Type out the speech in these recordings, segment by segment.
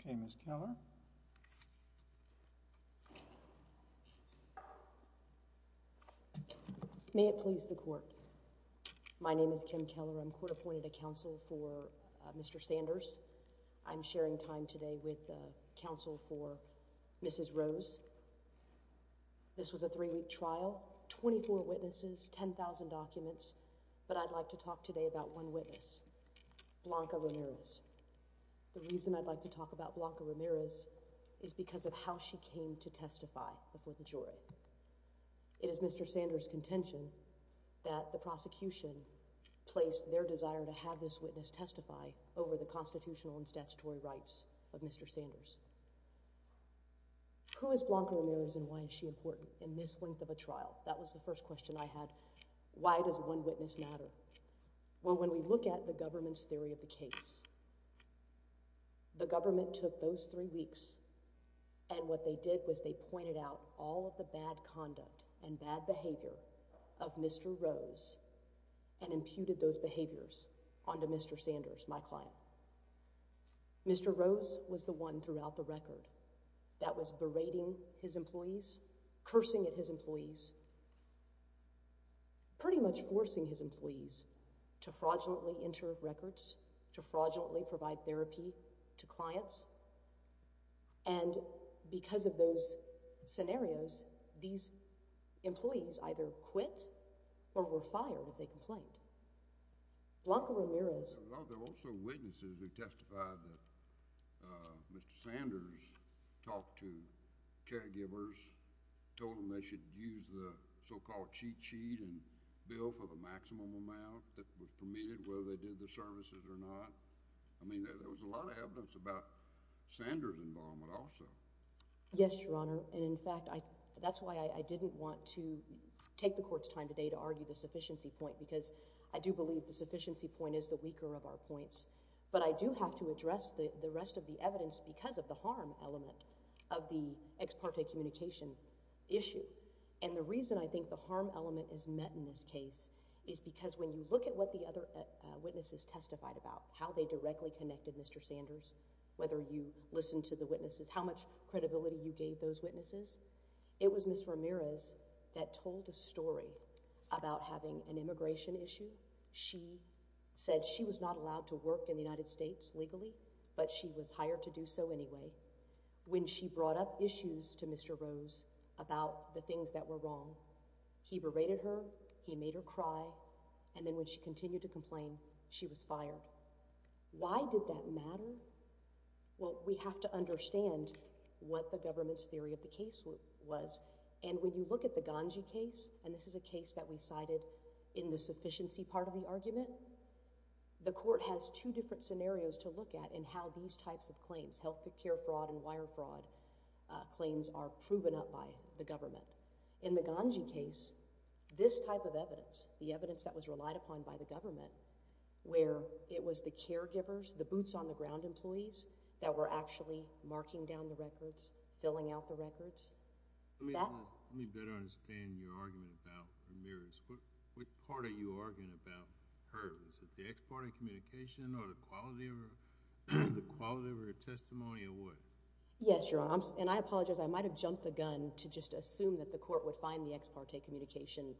Okay, Ms. Keller. Ms. Keller May it please the court. My name is Kim Keller. I'm court appointed to counsel for Mr. Sanders. I'm sharing time today with counsel for Mrs. Rose. This was a three-week trial, 24 witnesses, 10,000 documents, but I'd like to talk today about one witness, Blanca Ramirez. The reason I'd like to talk about Blanca Ramirez is because of how she came to testify before the jury. It is Mr. Sanders' contention that the prosecution placed their desire to have this witness testify over the constitutional and statutory rights of Mr. Sanders. Who is Blanca Ramirez and why is she important in this length of a trial? That was the first question I had. Why does one witness matter? Well, when we look at the government's theory of the case, the government took those three weeks and what they did was they pointed out all of the bad conduct and bad behavior of Mr. Rose and imputed those behaviors onto Mr. Sanders, my client. Mr. Rose was the one throughout the record that was berating his employees, cursing at his employees, pretty much forcing his employees to fraudulently enter records, to fraudulently provide therapy to clients, and because of those scenarios, these employees either quit or were fired if they complained. Blanca Ramirez— Well, there were also witnesses who testified that Mr. Sanders talked to caregivers, told them they should use the so-called cheat sheet and bill for the maximum amount that was permitted, whether they did the services or not. I mean, there was a lot of evidence about Sanders' involvement also. Yes, Your Honor, and in fact, that's why I didn't want to take the Court's time today to argue the sufficiency point, because I do believe the sufficiency point is the weaker of our points. But I do have to address the rest of the evidence because of the harm element of the ex parte communication issue. And the reason I think the harm element is met in this case is because when you look at what the other witnesses testified about, how they directly connected Mr. Sanders, whether you listened to the witnesses, how much credibility you gave those witnesses, it was Ms. Ramirez that told a story about having an immigration issue. She said she was not allowed to work in the United States legally, but she was hired to do the things that were wrong. He berated her, he made her cry, and then when she continued to complain, she was fired. Why did that matter? Well, we have to understand what the government's theory of the case was. And when you look at the Ganji case, and this is a case that we cited in the sufficiency part of the argument, the Court has two different scenarios to look at in how these types of In the Ganji case, this type of evidence, the evidence that was relied upon by the government, where it was the caregivers, the boots on the ground employees that were actually marking down the records, filling out the records, that Let me better understand your argument about Ramirez. What part are you arguing about her? Is it the ex parte communication or the quality of her testimony or what? Yes, Your Honor. And I apologize, I might have jumped the gun to just assume that the Court would find the ex parte communication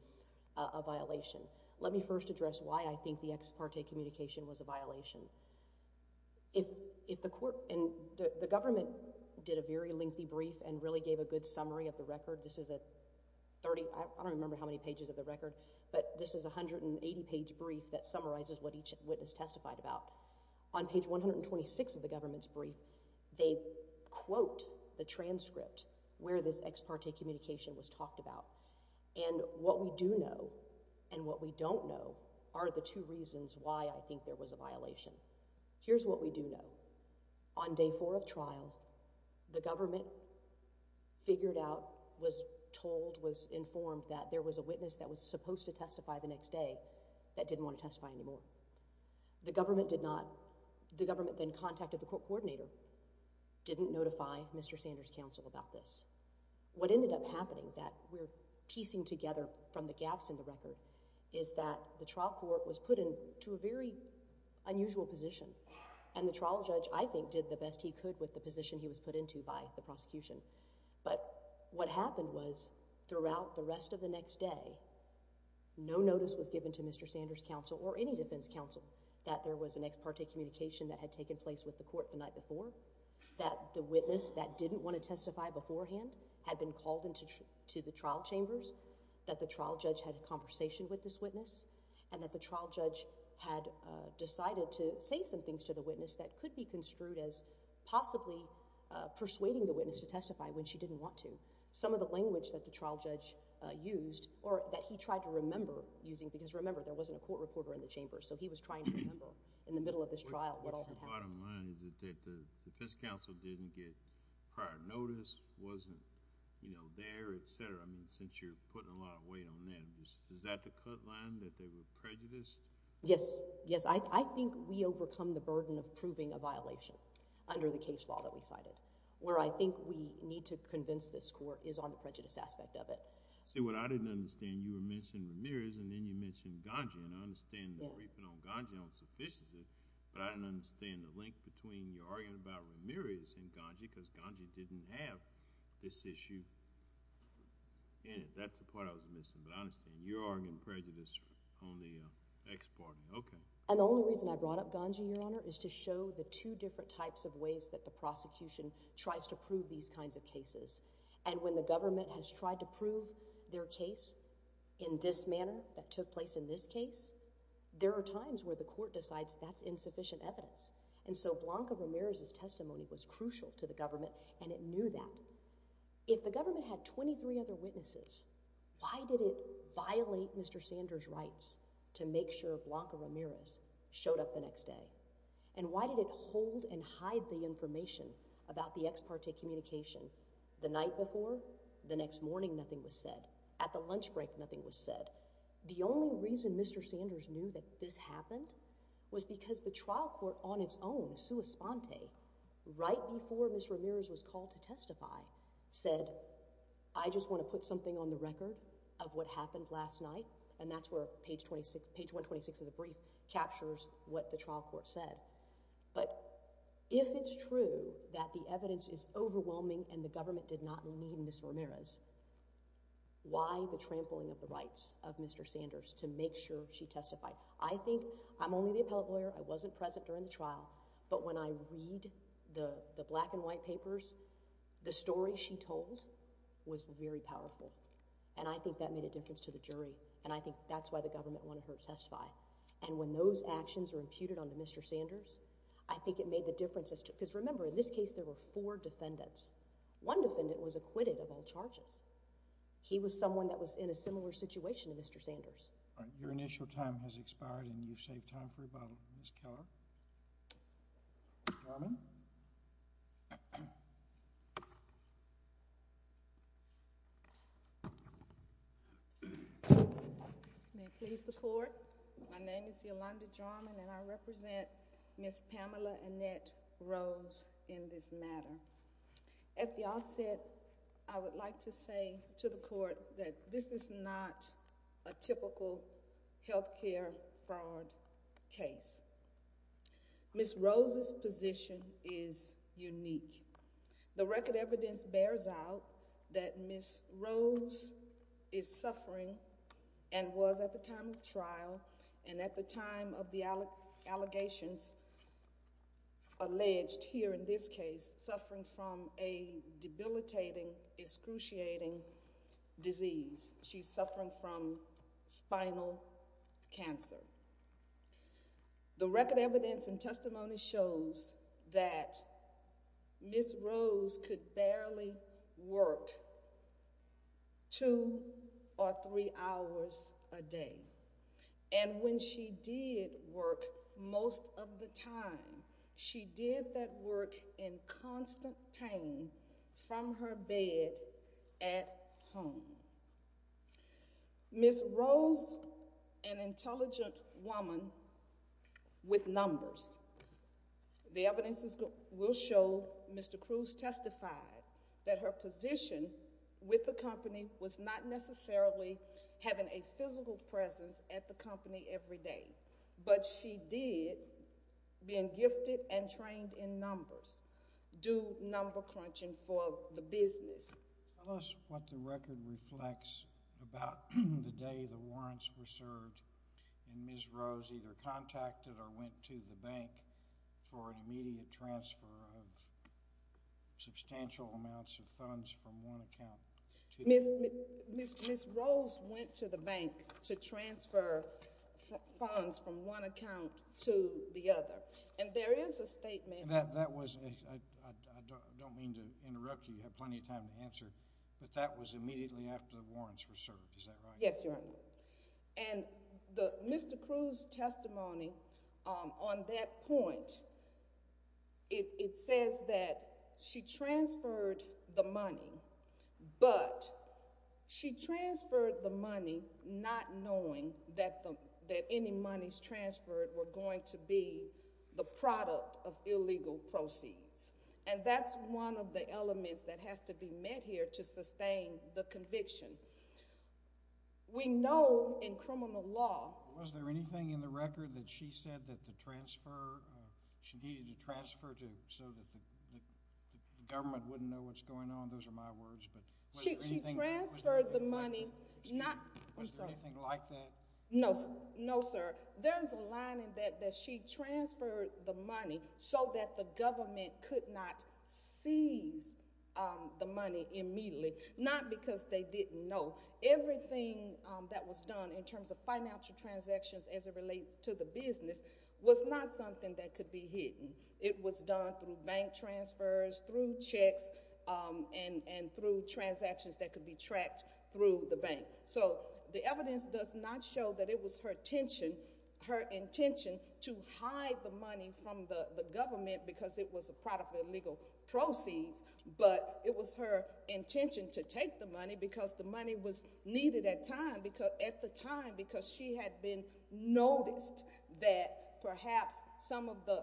a violation. Let me first address why I think the ex parte communication was a violation. If the Court, and the government did a very lengthy brief and really gave a good summary of the record. This is a 30, I don't remember how many pages of the record, but this is a 180 page brief that summarizes what each witness testified about. On page 126 of the government's brief, they quote the transcript where this ex parte communication was talked about. And what we do know and what we don't know are the two reasons why I think there was a violation. Here's what we do know. On day four of trial, the government figured out, was told, was informed that there was a witness that was supposed to testify the next day that didn't want to testify anymore. The government did not, the government then contacted the court coordinator, didn't notify Mr. Sanders' counsel about this. What ended up happening, that we're piecing together from the gaps in the record, is that the trial court was put into a very unusual position and the trial judge, I think, did the best he could with the position he was put into by the prosecution. But what happened was, throughout the rest of the next day, no notice was given to Mr. Sanders' counsel. That there was an ex parte communication that had taken place with the court the night before, that the witness that didn't want to testify beforehand had been called into the trial chambers, that the trial judge had a conversation with this witness, and that the trial judge had decided to say some things to the witness that could be construed as possibly persuading the witness to testify when she didn't want to. Some of the language that the trial judge used, or that he tried to remember using, because remember, there wasn't a court reporter in the chamber, so he was trying to remember in the middle of this trial what all had happened. What's the bottom line? Is it that the defense counsel didn't get prior notice, wasn't, you know, there, etc.? I mean, since you're putting a lot of weight on that. Is that the cut line, that they were prejudiced? Yes. Yes. I think we overcome the burden of proving a violation under the case law that we cited, where I think we need to convince this court is on the prejudice aspect of it. See, what I didn't understand, you were mentioning Ramirez, and then you mentioned Ganji, and I understand the grieving on Ganji unsuffices it, but I didn't understand the link between your arguing about Ramirez and Ganji, because Ganji didn't have this issue in it. That's the part I was missing, but I understand you're arguing prejudice on the ex-partner. Okay. And the only reason I brought up Ganji, Your Honor, is to show the two different types of ways that the prosecution tries to prove these kinds of cases. And when the government has tried to prove their case in this manner, that took place in this case, there are times where the court decides that's insufficient evidence. And so Blanca Ramirez's testimony was crucial to the government, and it knew that. If the government had 23 other witnesses, why did it violate Mr. Sanders' rights to make sure Blanca Ramirez showed up the next day? And why did it hold and hide the information about the ex-parte communication? The night before, the next morning, nothing was said. At the lunch break, nothing was said. The only reason Mr. Sanders knew that this happened was because the trial court on its own, sua sponte, right before Ms. Ramirez was called to testify, said, I just want to put something on the record of what happened last night, and that's where page 126 of the court said. But if it's true that the evidence is overwhelming and the government did not need Ms. Ramirez, why the trampling of the rights of Mr. Sanders to make sure she testified? I think, I'm only the appellate lawyer, I wasn't present during the trial, but when I read the black and white papers, the story she told was very powerful. And I think that made a difference to the jury. And I think that's why the government wanted her to testify. And when those actions were imputed on to Mr. Sanders, I think it made the difference. Because remember, in this case, there were four defendants. One defendant was acquitted of all charges. He was someone that was in a similar situation to Mr. Sanders. Your initial time has expired and you've saved time for rebuttal, Ms. Keller. Mr. Garmon? May it please the court, my name is Yolanda Garmon and I represent Ms. Pamela Annette Rose in this matter. At the outset, I would like to say to the court that this is not a typical health care fraud case. Ms. Rose's position is unique. The record evidence bears out that Ms. Rose is suffering and was at the time of trial and at the time of the allegations alleged here in this case, suffering from a debilitating, excruciating disease. She's suffering from spinal cancer. The record evidence and testimony shows that Ms. Rose could barely work two or three hours a day. And when she did work most of the time, she did that work in constant pain from her bed at home. Ms. Rose, an intelligent woman with numbers, the evidence will show Mr. Cruz testified that her position with the company was not necessarily having a physical presence at the company every day, but she did, being gifted and trained in numbers, do number crunching for the business. Tell us what the record reflects about the day the warrants were served and Ms. Rose either contacted or went to the bank for an immediate transfer of substantial amounts of funds from one account to the other. Ms. Rose went to the bank to transfer funds from one account to the other. And there is a statement. That was, I don't mean to interrupt you, you have plenty of time to answer, but that was immediately after the warrants were served, is that right? Yes, Your Honor. And Mr. Cruz' testimony on that point, it says that she transferred the money, but she transferred the money not knowing that any monies transferred were going to be the product of illegal proceeds. And that's one of the elements that has to be met here to sustain the conviction. We know in criminal law... Was there anything in the record that she said that the transfer, she needed to transfer so that the government wouldn't know what's going on? Those are my words, but... She transferred the money, not... Was there anything like that? No, sir. There is a line in that that she transferred the money so that the government could not seize the money immediately, not because they didn't know. Everything that was done in terms of financial transactions as it relates to the business was not something that could be hidden. It was done through bank transfers, through checks, and through transactions that could be tracked through the bank. So the evidence does not show that it was her intention to hide the money from the government because it was a product of illegal proceeds, but it was her intention to take the money because the money was needed at the time because she had been noticed that perhaps some of the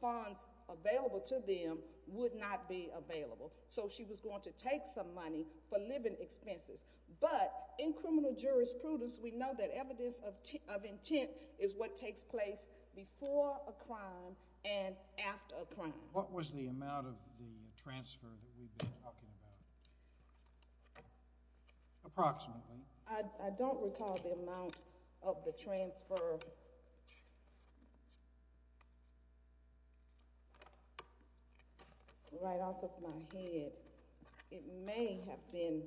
funds available to them would not be available. So she was going to take some money for living expenses. But in criminal jurisprudence, we know that evidence of intent is what takes place before a crime and after a crime. What was the amount of the transfer that we've been talking about, approximately? I don't recall the amount of the transfer right off of my head. It may have been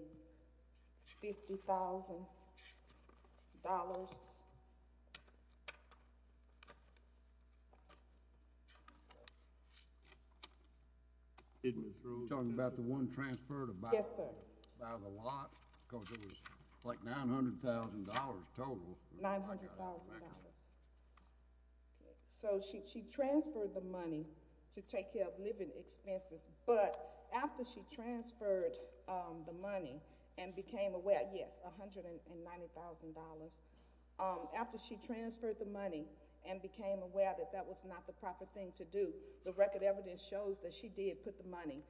$50,000. You're talking about the one transfer to buy the lot? Yes, sir. Because it was like $900,000 total. $900,000. So she transferred the money to take care of living expenses. But after she transferred the money and became aware, yes, $190,000. After she transferred the money and became aware that that was not the proper thing to do, the record evidence shows that she did put the money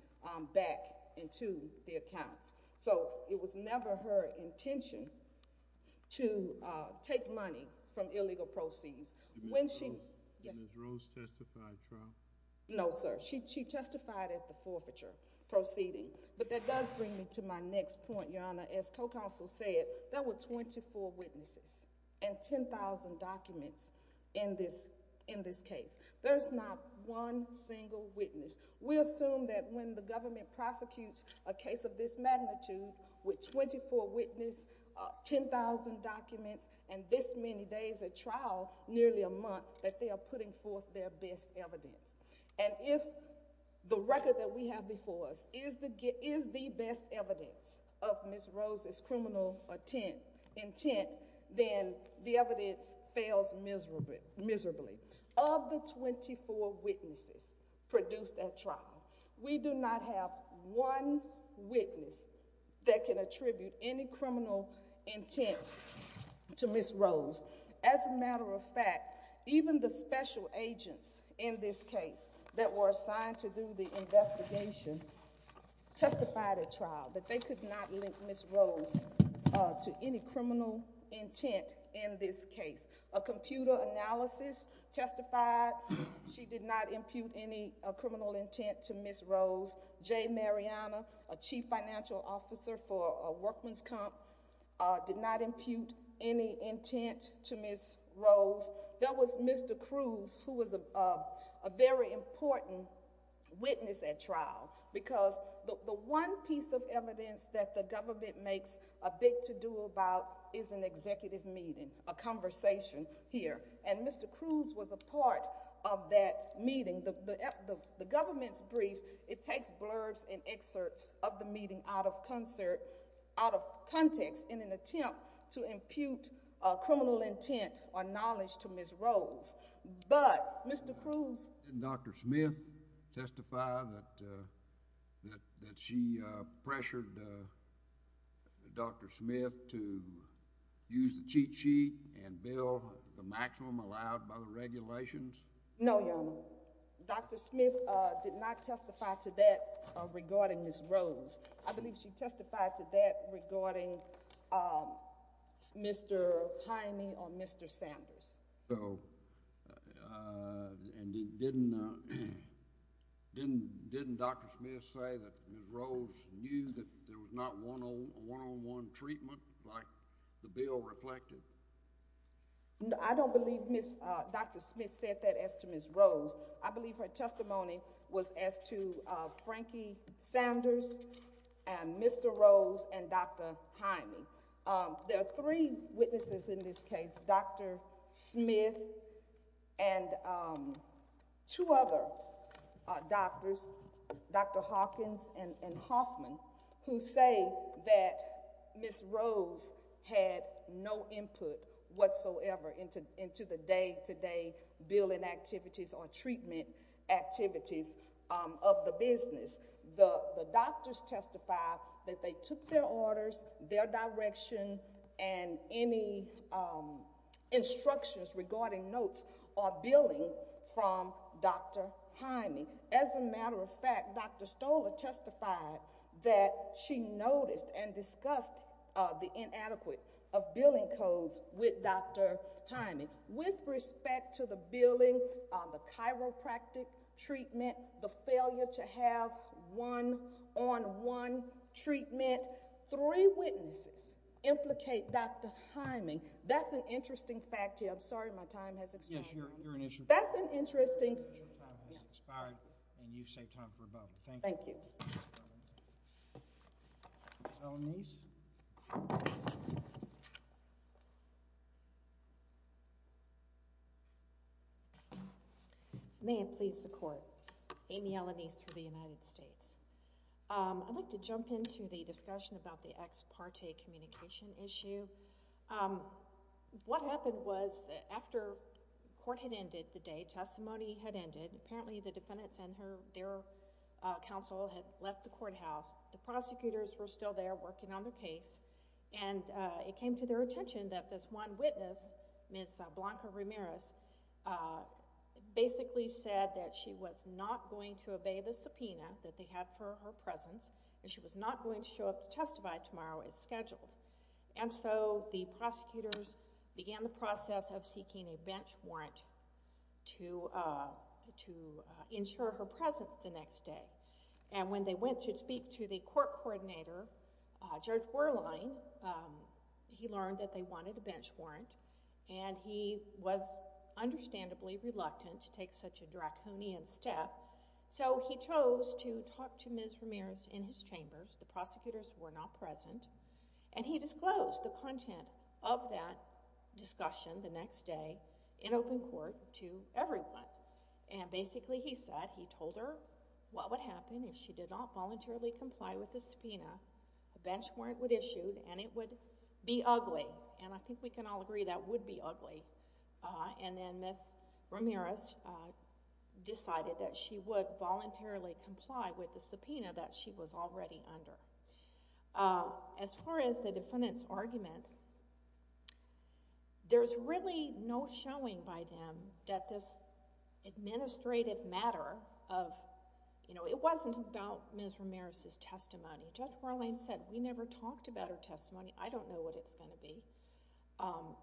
back into the accounts. So it was never her intention to take money from illegal proceeds. Did Ms. Rose testify at trial? No, sir. She testified at the forfeiture proceeding. But that does bring me to my next point, Your Honor. As co-counsel said, there were 24 witnesses and 10,000 documents in this case. There's not one single witness. We assume that when the government prosecutes a case of this magnitude, with 24 witnesses, 10,000 documents, and this many days at trial, nearly a month, that they are putting forth their best evidence. And if the record that we have before us is the best evidence of Ms. Rose's criminal intent, then the evidence fails miserably. Of the 24 witnesses produced at trial, we do not have one witness that can attribute any criminal intent to Ms. Rose. As a matter of fact, even the special agents in this case that were assigned to do the investigation testified at trial that they could not link Ms. Rose to any criminal intent in this case. A computer analysis testified she did not impute any criminal intent to Ms. Rose. J. Mariana, a chief financial officer for Workman's Comp, did not impute any intent to Ms. Rose. There was Mr. Cruz, who was a very important witness at trial, because the one piece of evidence that the government makes a big to-do about is an executive meeting, a conversation here. And Mr. Cruz was a part of that meeting. The government's brief, it takes blurbs and excerpts of the meeting out of context in an attempt to impute criminal intent or knowledge to Ms. Rose. But Mr. Cruz... Did Dr. Smith testify that she pressured Dr. Smith to use the cheat sheet and bill the maximum allowed by the regulations? No, Your Honor. Dr. Smith did not testify to that regarding Ms. Rose. I believe she testified to that regarding Mr. Hynie or Mr. Sanders. So, and didn't Dr. Smith say that Ms. Rose knew that there was not a one-on-one treatment like the bill reflected? I don't believe Dr. Smith said that as to Ms. Rose. I believe her testimony was as to Frankie Sanders and Mr. Rose and Dr. Hynie. There are three witnesses in this case, Dr. Smith and two other doctors, Dr. Hawkins and Hoffman, who say that Ms. Rose had no input whatsoever into the day-to-day billing activities or treatment activities of the business. The doctors testified that they took their orders, their direction, and any instructions regarding notes or billing from Dr. Hynie. As a matter of fact, Dr. Stoler testified that she noticed and discussed the inadequate of billing codes with Dr. Hynie. With respect to the billing, the chiropractic treatment, the failure to have one-on-one treatment, three witnesses implicate Dr. Hynie. That's an interesting fact here. I'm sorry my time has expired. Yes, you're an issue. That's an interesting... Your time has expired and you've saved time for a bubble. Thank you. Thank you. Ms. Elanese? May it please the Court. Amy Elanese for the United States. I'd like to jump into the discussion about the ex parte communication issue. What happened was after court had ended today, testimony had ended, apparently the defendants and their counsel had left the courthouse. The prosecutors were still there working on the case and it came to their attention that this one witness, Ms. Blanca Ramirez, basically said that she was not going to obey the subpoena that they had for her presence and she was not going to show up to testify tomorrow as scheduled. And so the prosecutors began the process of seeking a bench warrant to ensure her presence the next day. And when they went to speak to the court coordinator, Judge Werlein, he learned that they wanted a bench warrant and he was understandably reluctant to take such a draconian step. So he chose to talk to Ms. Ramirez in his chambers. The prosecutors were not present. And he disclosed the content of that discussion the next day in open court to everyone. And basically he said, he told her what would happen if she did not voluntarily comply with the subpoena. A bench warrant would be issued and it would be ugly. And I think we can all agree that would be ugly. And then Ms. Ramirez decided that she would voluntarily comply with the subpoena that she was already under. As far as the defendant's arguments, there's really no showing by them that this administrative matter of, you know, it wasn't about Ms. Ramirez's testimony. Judge Werlein said, we never talked about her testimony. I don't know what it's going to be.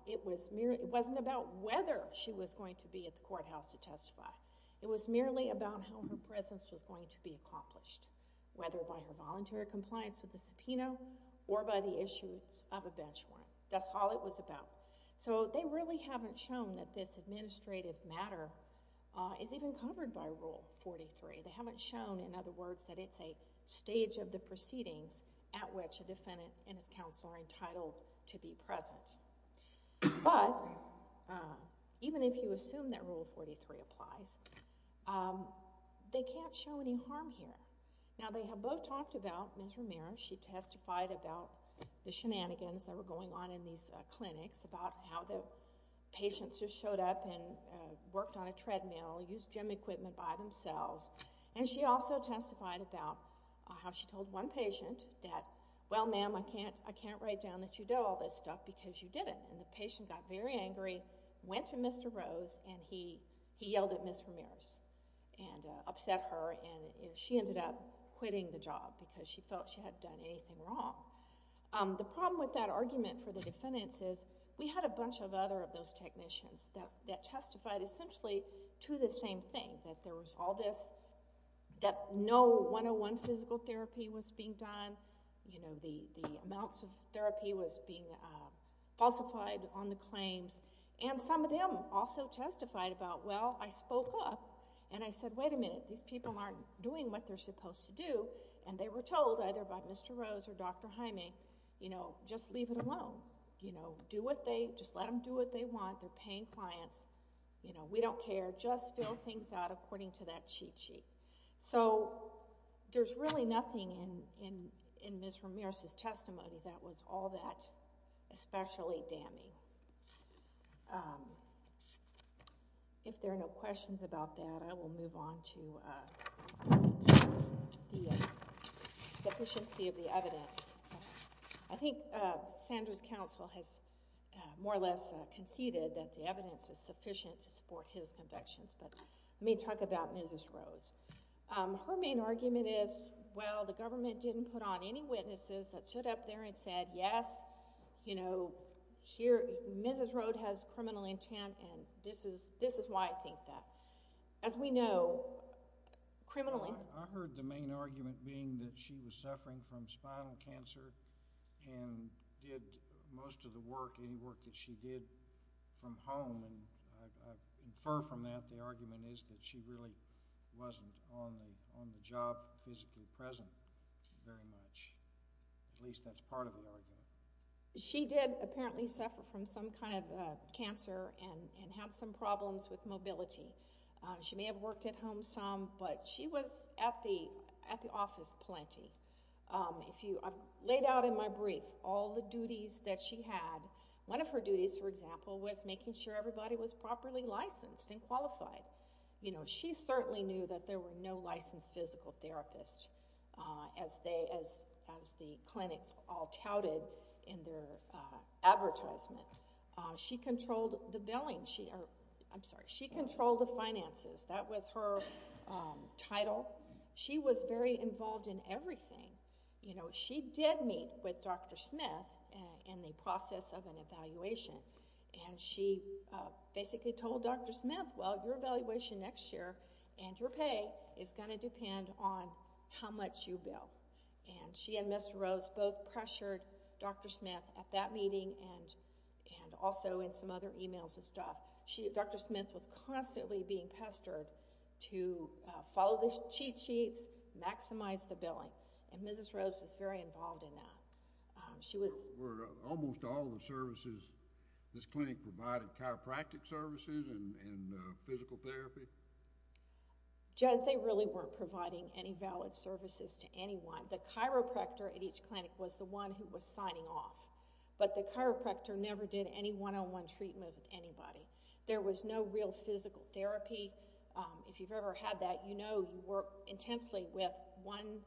It wasn't about whether she was going to be at the courthouse to testify. It was merely about how her presence was going to be accomplished. Whether by her voluntary compliance with the subpoena or by the issuance of a bench warrant. That's all it was about. So they really haven't shown that this administrative matter is even covered by Rule 43. They haven't shown, in other words, that it's a stage of the proceedings at which a defendant and his counsel are entitled to be present. But, even if you assume that Rule 43 applies, they can't show any harm here. Now, they have both talked about Ms. Ramirez. She testified about the shenanigans that were going on in these clinics, about how the patients just showed up and worked on a treadmill, used gym equipment by themselves. And she also testified about how she told one patient that, well, ma'am, I can't write down that you do all this stuff because you didn't. And the patient got very angry, went to Mr. Rose, and he yelled at Ms. Ramirez and upset her, and she ended up quitting the job because she felt she hadn't done anything wrong. The problem with that argument for the defendants is we had a bunch of other of those technicians that testified essentially to the same thing, that there was all this, that no 101 physical therapy was being done, the amounts of therapy was being falsified on the claims, and some of them also testified about, well, I spoke up and I said, wait a minute, these people aren't doing what they're supposed to do, and they were told either by Mr. Rose or Dr. Jaime, you know, just leave it alone. You know, do what they, just let them do what they want. They're paying clients. You know, we don't care. Just fill things out according to that cheat sheet. So there's really nothing in Ms. Ramirez's testimony that was all that especially damning. If there are no questions about that, I will move on to the sufficiency of the evidence. I think Sandra's counsel has more or less conceded that the evidence is sufficient to support his convictions, but let me talk about Mrs. Rose. Her main argument is, well, the government didn't put on any witnesses that showed up there and said, yes, you know, Mrs. Rose has criminal intent, and this is why I think that. As we know, criminal intent... I heard the main argument being that she was suffering from spinal cancer and did most of the work, any work that she did from home, and I infer from that the argument is that she really wasn't on the job physically present very much. At least that's part of the argument. She did apparently suffer from some kind of cancer and had some problems with mobility. She may have worked at home some, but she was at the office plenty. I've laid out in my brief all the duties that she had. One of her duties, for example, was making sure everybody was properly licensed and qualified. You know, she certainly knew that there were no licensed physical therapists as the clinics all touted in their advertisement. She controlled the billing. I'm sorry, she controlled the finances. That was her title. She was very involved in everything. You know, she did meet with Dr. Smith in the process of an evaluation, and she basically told Dr. Smith, well, your evaluation next year and your pay is gonna depend on how much you bill. And she and Mr. Rose both pressured Dr. Smith at that meeting and also in some other e-mails and stuff. Dr. Smith was constantly being pestered to follow the cheat sheets, maximize the billing, and Mrs. Rose was very involved in that. She was... Were almost all the services this clinic provided chiropractic services and physical therapy? Jez, they really weren't providing any valid services to anyone. The chiropractor at each clinic was the one who was signing off. But the chiropractor never did any one-on-one treatment with anybody. There was no real physical therapy. If you've ever had that, you know you work intensely with one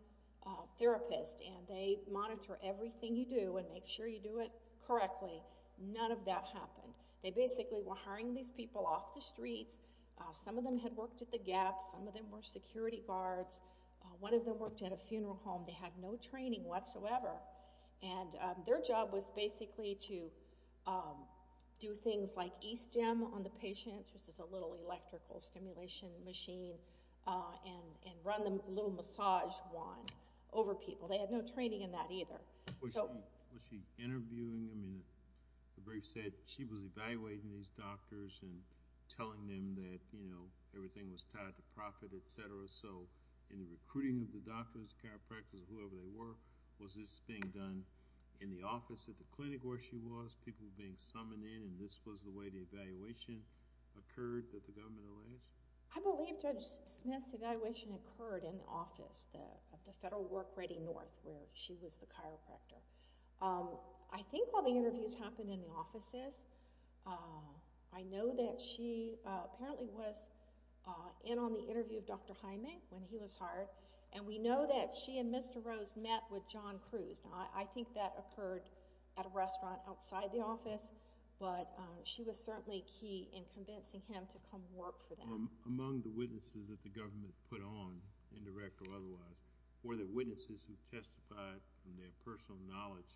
therapist and they monitor everything you do and make sure you do it correctly. None of that happened. They basically were hiring these people off the streets. Some of them had worked at the GAP. Some of them were security guards. One of them worked at a funeral home. They had no training whatsoever. And their job was basically to do things like e-stem on the patients, which is a little electrical stimulation machine, and run them a little massage wand over people. They had no training in that either. Was she interviewing them? The brief said she was evaluating these doctors and telling them that, you know, everything was tied to profit, etc. So in the recruiting of the doctors, the chiropractors, whoever they were, was this being done in the office at the clinic where she was? People being summoned in, and this was the way the evaluation occurred that the government alleged? I believe Judge Smith's evaluation occurred in the office of the Federal Work Ready North, where she was the chiropractor. I think all the interviews happened in the offices. I know that she apparently was in on the interview of Dr. Hyman when he was hired, and we know that she and Mr. Rose met with John Cruz. I think that occurred at a restaurant outside the office, but she was certainly key in convincing him to come work for them. Among the witnesses that the government put on, indirect or otherwise, were the witnesses who testified from their personal knowledge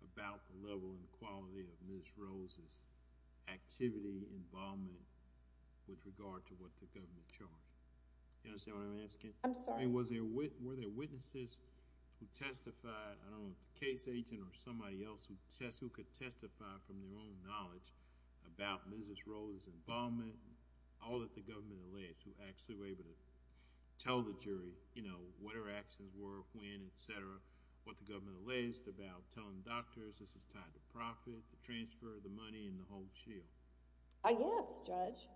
about the level and quality of Ms. Rose ' activity, involvement, with regard to what the government charged? Do you understand what I'm asking? I'm sorry. Were there witnesses who testified, I don't know if the case agent or somebody else who could testify from their own knowledge about Ms. Rose' involvement, all that the government alleged, who actually were able to tell the jury what her actions were, when, etc., what the government alleged about telling doctors this is tied to profit, the transfer of the money, and the whole shield? Yes, Judge.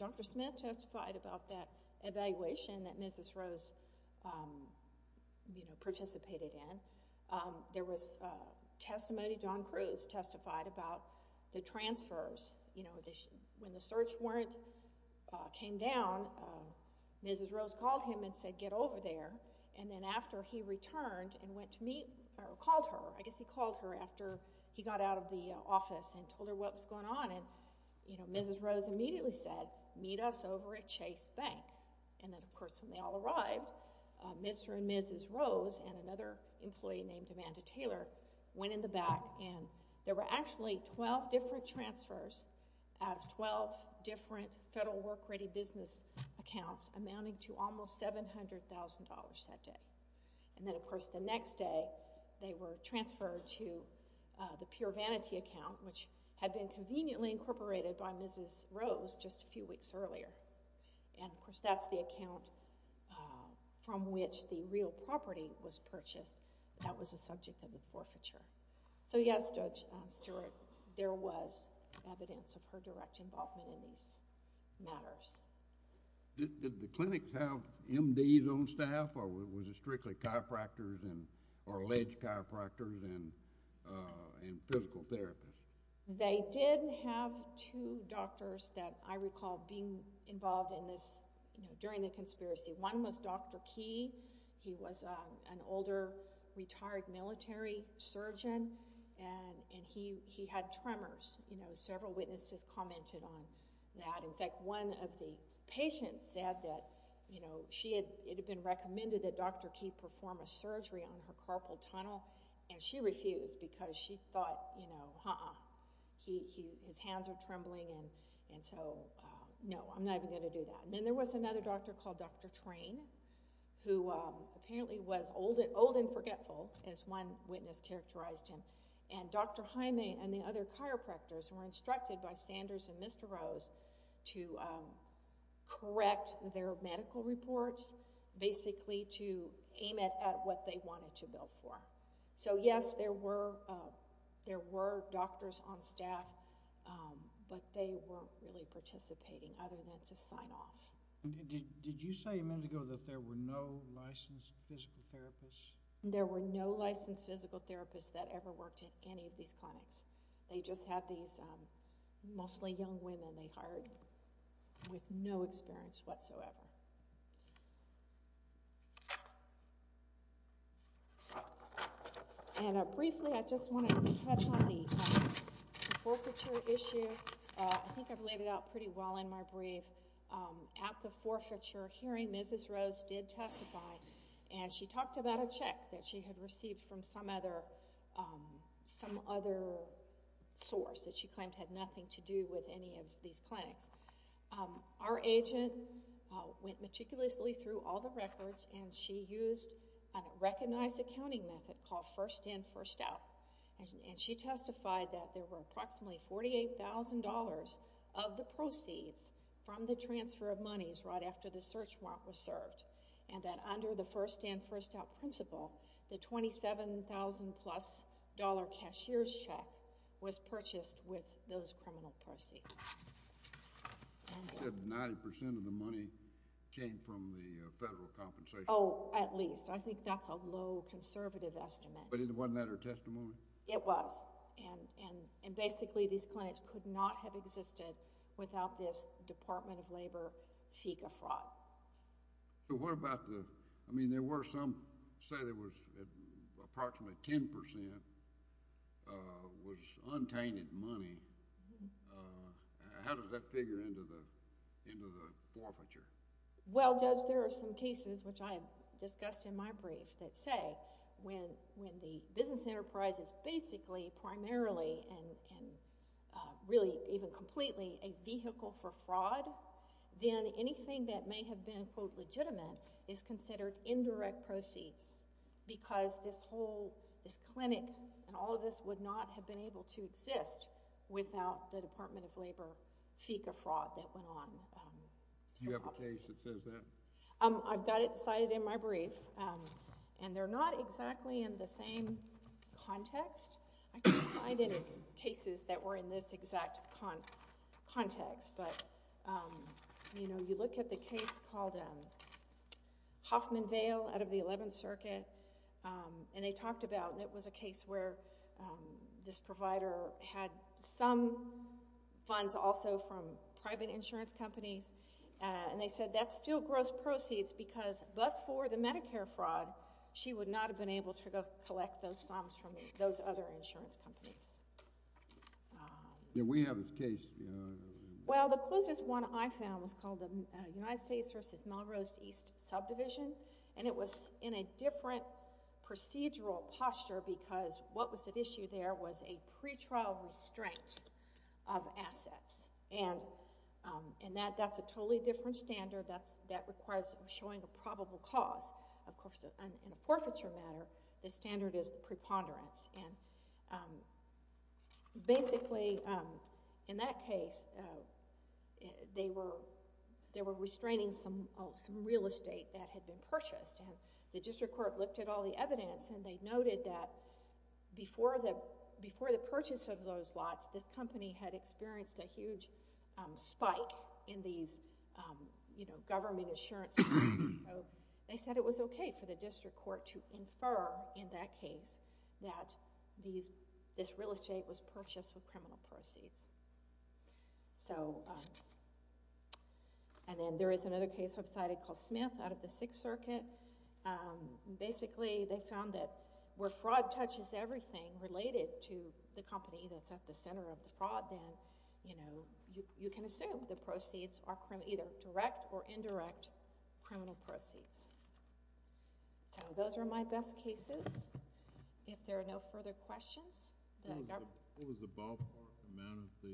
Dr. Smith testified about that evaluation that Ms. Rose participated in. There was testimony, John Cruz testified about the transfers. When the search warrant came down, Ms. Rose called him and said, get over there, and then after he returned and went to meet, or called her, I guess he called her after he got out of the office and told her what was going on, Ms. Rose immediately said, meet us over at Chase Bank. And then, of course, when they all arrived, Mr. and Mrs. Rose and another employee named Amanda Taylor went in the back, and there were actually 12 different transfers out of 12 different federal work-ready business accounts amounting to almost $700,000 that day. And then, of course, the next day they were transferred to the Pure Vanity account, which had been conveniently incorporated by Mrs. Rose just a few weeks earlier. And, of course, that's the account from which the real property was purchased. That was the subject of the forfeiture. So, yes, Judge Stewart, there was evidence of her direct involvement in these matters. Did the clinics have MDs on staff, or was it strictly chiropractors or alleged chiropractors and physical therapists? They did have two doctors that I recall being involved in this during the conspiracy. One was Dr. Key. He was an older, retired military surgeon, and he had tremors. Several witnesses commented on that. In fact, one of the patients said that it had been recommended that Dr. Key perform a surgery on her carpal tunnel, and she refused because she thought uh-uh, his hands are trembling, and so no, I'm not even going to do that. Then there was another doctor called Dr. Train, who apparently was old and forgetful, as one witness characterized him. And Dr. Jaime and the other chiropractors were instructed by Sanders and Mr. Rose to correct their medical reports, basically to aim it at what they wanted to bill for. So yes, there were doctors on staff, but they weren't really participating other than to sign off. Did you say a minute ago that there were no licensed physical therapists? There were no licensed physical therapists that ever worked at any of these clinics. They just had these mostly young women they hired with no experience whatsoever. And briefly, I just want to touch on the forfeiture issue. I think I've laid it out pretty well in my brief. At the forfeiture hearing, Mrs. Rose did testify, and she talked about a check that she had received from some other source that she claimed had nothing to do with any of these clinics. Our agent went meticulously through all the records and she used a recognized accounting method called First In, First Out, and she testified that there were approximately $48,000 of the proceeds from the transfer of monies right after the search warrant was served and that under the First In, First Out principle, the $27,000 plus dollar cashier's check was purchased with those criminal proceeds. You said 90% of the money came from the federal compensation? Oh, at least. I think that's a low conservative estimate. But wasn't that her testimony? It was. And basically these clinics could not have existed without this Department of Labor FICA fraud. So what about the, I mean there were some say there was approximately 10% was untainted money. How does that figure into the forfeiture? Well Judge, there are some cases which I discussed in my brief that say when the business enterprise is basically primarily and really even completely a vehicle for fraud then anything that may have been quote legitimate is considered indirect proceeds because this whole, this clinic and all of this would not have been able to exist without the Department of Labor FICA fraud that went on. Do you have a case that says that? I've got it cited in my brief and they're not exactly in the same context. I can't find any cases that were in this exact context but you know, you look at the case called Hoffman Vale out of the 11th Circuit and they talked about, and it was a case where this provider had some funds also from private insurance companies and they said that's still gross proceeds because but for the Medicare fraud she would not have been able to collect those sums from those other insurance companies. Do we have a case? Well the closest one I found was called the United States versus Melrose East Subdivision and it was in a different procedural posture because what was at issue there was a pretrial restraint of assets and that's a totally different standard that requires showing a probable cause. In a forfeiture matter, the standard is preponderance and basically in that case they were restraining some real estate that had been purchased and the district court looked at all the evidence and they noted that before the purchase of those lots, this company had experienced a huge spike in these government insurance they said it was okay for the district court to infer in that case that this real estate was purchased with so and then there is another case called Smith out of the Sixth Circuit basically they found that where fraud touches everything related to the company that's at the center of the fraud then you can assume the proceeds are either direct or indirect criminal proceeds. So those are my best cases if there are no further questions What was the amount of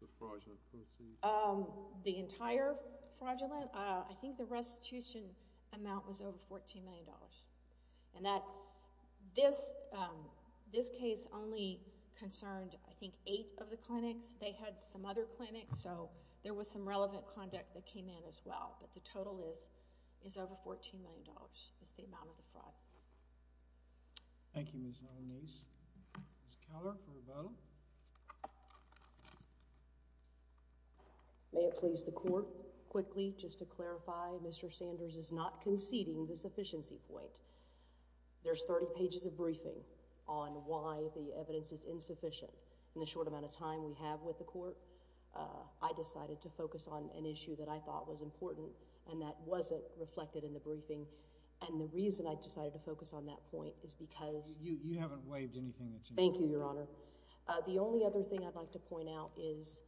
the fraudulent proceeds? The entire fraudulent I think the restitution amount was over 14 million dollars and that this case only concerned I think 8 of the clinics they had some other clinics so there was some relevant conduct that came in as well but the total is over 14 million dollars is the amount of the fraud Thank you Ms. Nolanese Ms. Keller May it please the court quickly just to clarify Mr. Sanders is not conceding the sufficiency point There's 30 pages of briefing on why the evidence is insufficient in the short amount of time we have with the court I decided to focus on an issue that I thought was important and that wasn't reflected in the briefing and the reason I decided to focus on that point is because You haven't waived anything The only other thing I'd like to point out is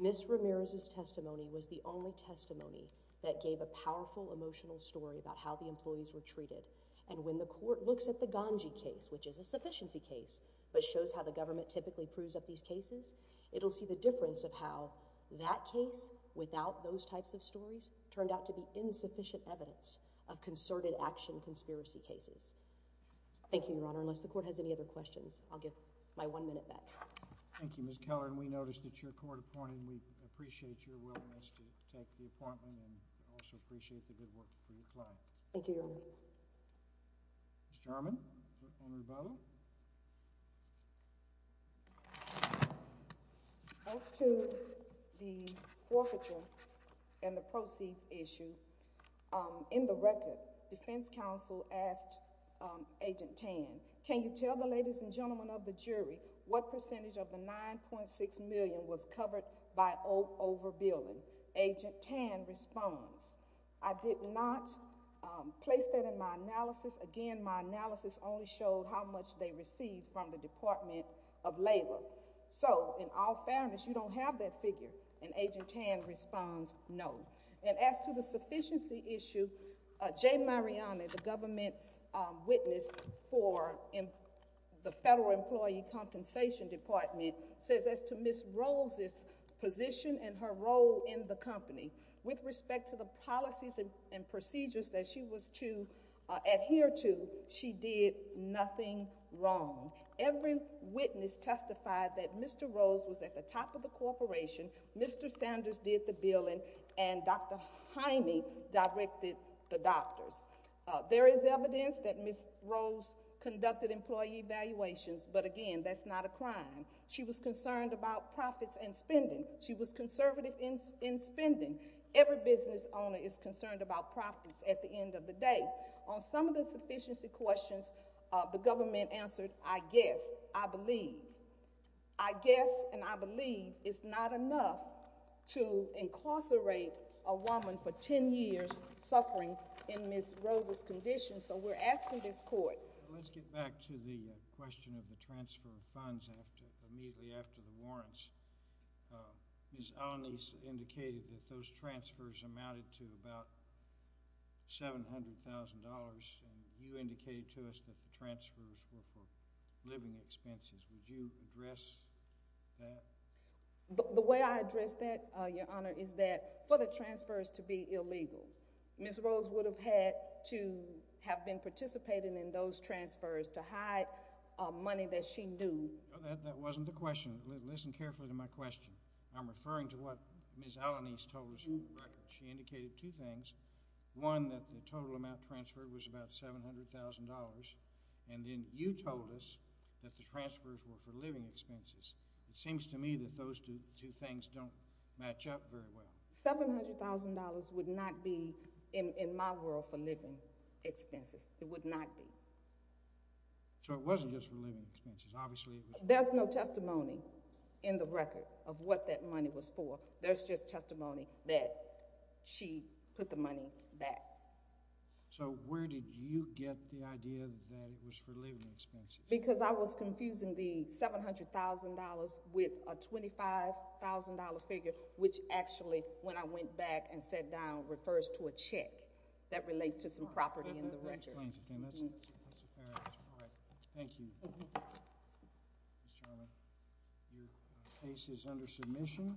Ms. Ramirez's testimony was the only testimony that gave a powerful emotional story about how the employees were treated and when the court looks at the Ganji case which is a sufficiency case but shows how the government typically proves up these cases it'll see the difference of how that case without those types of stories turned out to be insufficient evidence of concerted action conspiracy cases. Thank you your honor unless the court has any other questions I'll give my one minute back Thank you Ms. Keller and we noticed that your court appointed we appreciate your willingness to take the appointment and also appreciate the good work for your client Thank you your honor Ms. Jarman As to the proceeds issue in the record defense counsel asked Agent Tan can you tell the ladies and gentlemen of the jury what percentage of the 9.6 million was covered by over billing Agent Tan responds I did not place that in my analysis again my analysis only showed how much they received from the Department of Labor so in all fairness you don't have that figure and Agent Tan responds no and as to the sufficiency issue Jay Mariani the government's witness for the Federal Employee Compensation Department says as to Ms. Rose's position and her role in the company with respect to the policies and procedures that she was to adhere to she did nothing wrong every witness testified that Mr. Rose was at the top of the corporation Mr. Sanders did the billing and Dr. Heine directed the doctors there is evidence that Ms. Rose conducted employee evaluations but again that's not a crime she was concerned about profits and spending she was conservative in spending every business owner is concerned about profits at the end of the day on some of the sufficiency questions the government answered I guess, I believe I guess and I believe it's not enough to incarcerate a woman for 10 years suffering in Ms. Rose's condition so we're asking this court Let's get back to the question of the transfer of funds immediately after the warrants Ms. Alanis indicated that those transfers amounted to about $700,000 and you indicated to us that the transfers were for living expenses. Would you address that? The way I address that, Your Honor is that for the transfers to be illegal, Ms. Rose would have had to have been participating in those transfers to hide money that she knew That wasn't the question. Listen carefully to my question. I'm referring to what Ms. Alanis told us she indicated two things one that the total amount transferred was about $700,000 and then you told us that the transfers were for living expenses. It seems to me that those two things don't match up very well. $700,000 would not be in my world for living expenses It would not be So it wasn't just for living expenses There's no testimony in the record of what that money was for. There's just testimony that she put the money back So where did you get the idea that it was for living expenses? Because I was confusing the $700,000 with a $25,000 figure which actually when I went back and sat down refers to a check that relates to some property in the record That's a fair answer Thank you Mr. Chairman Your case is under submission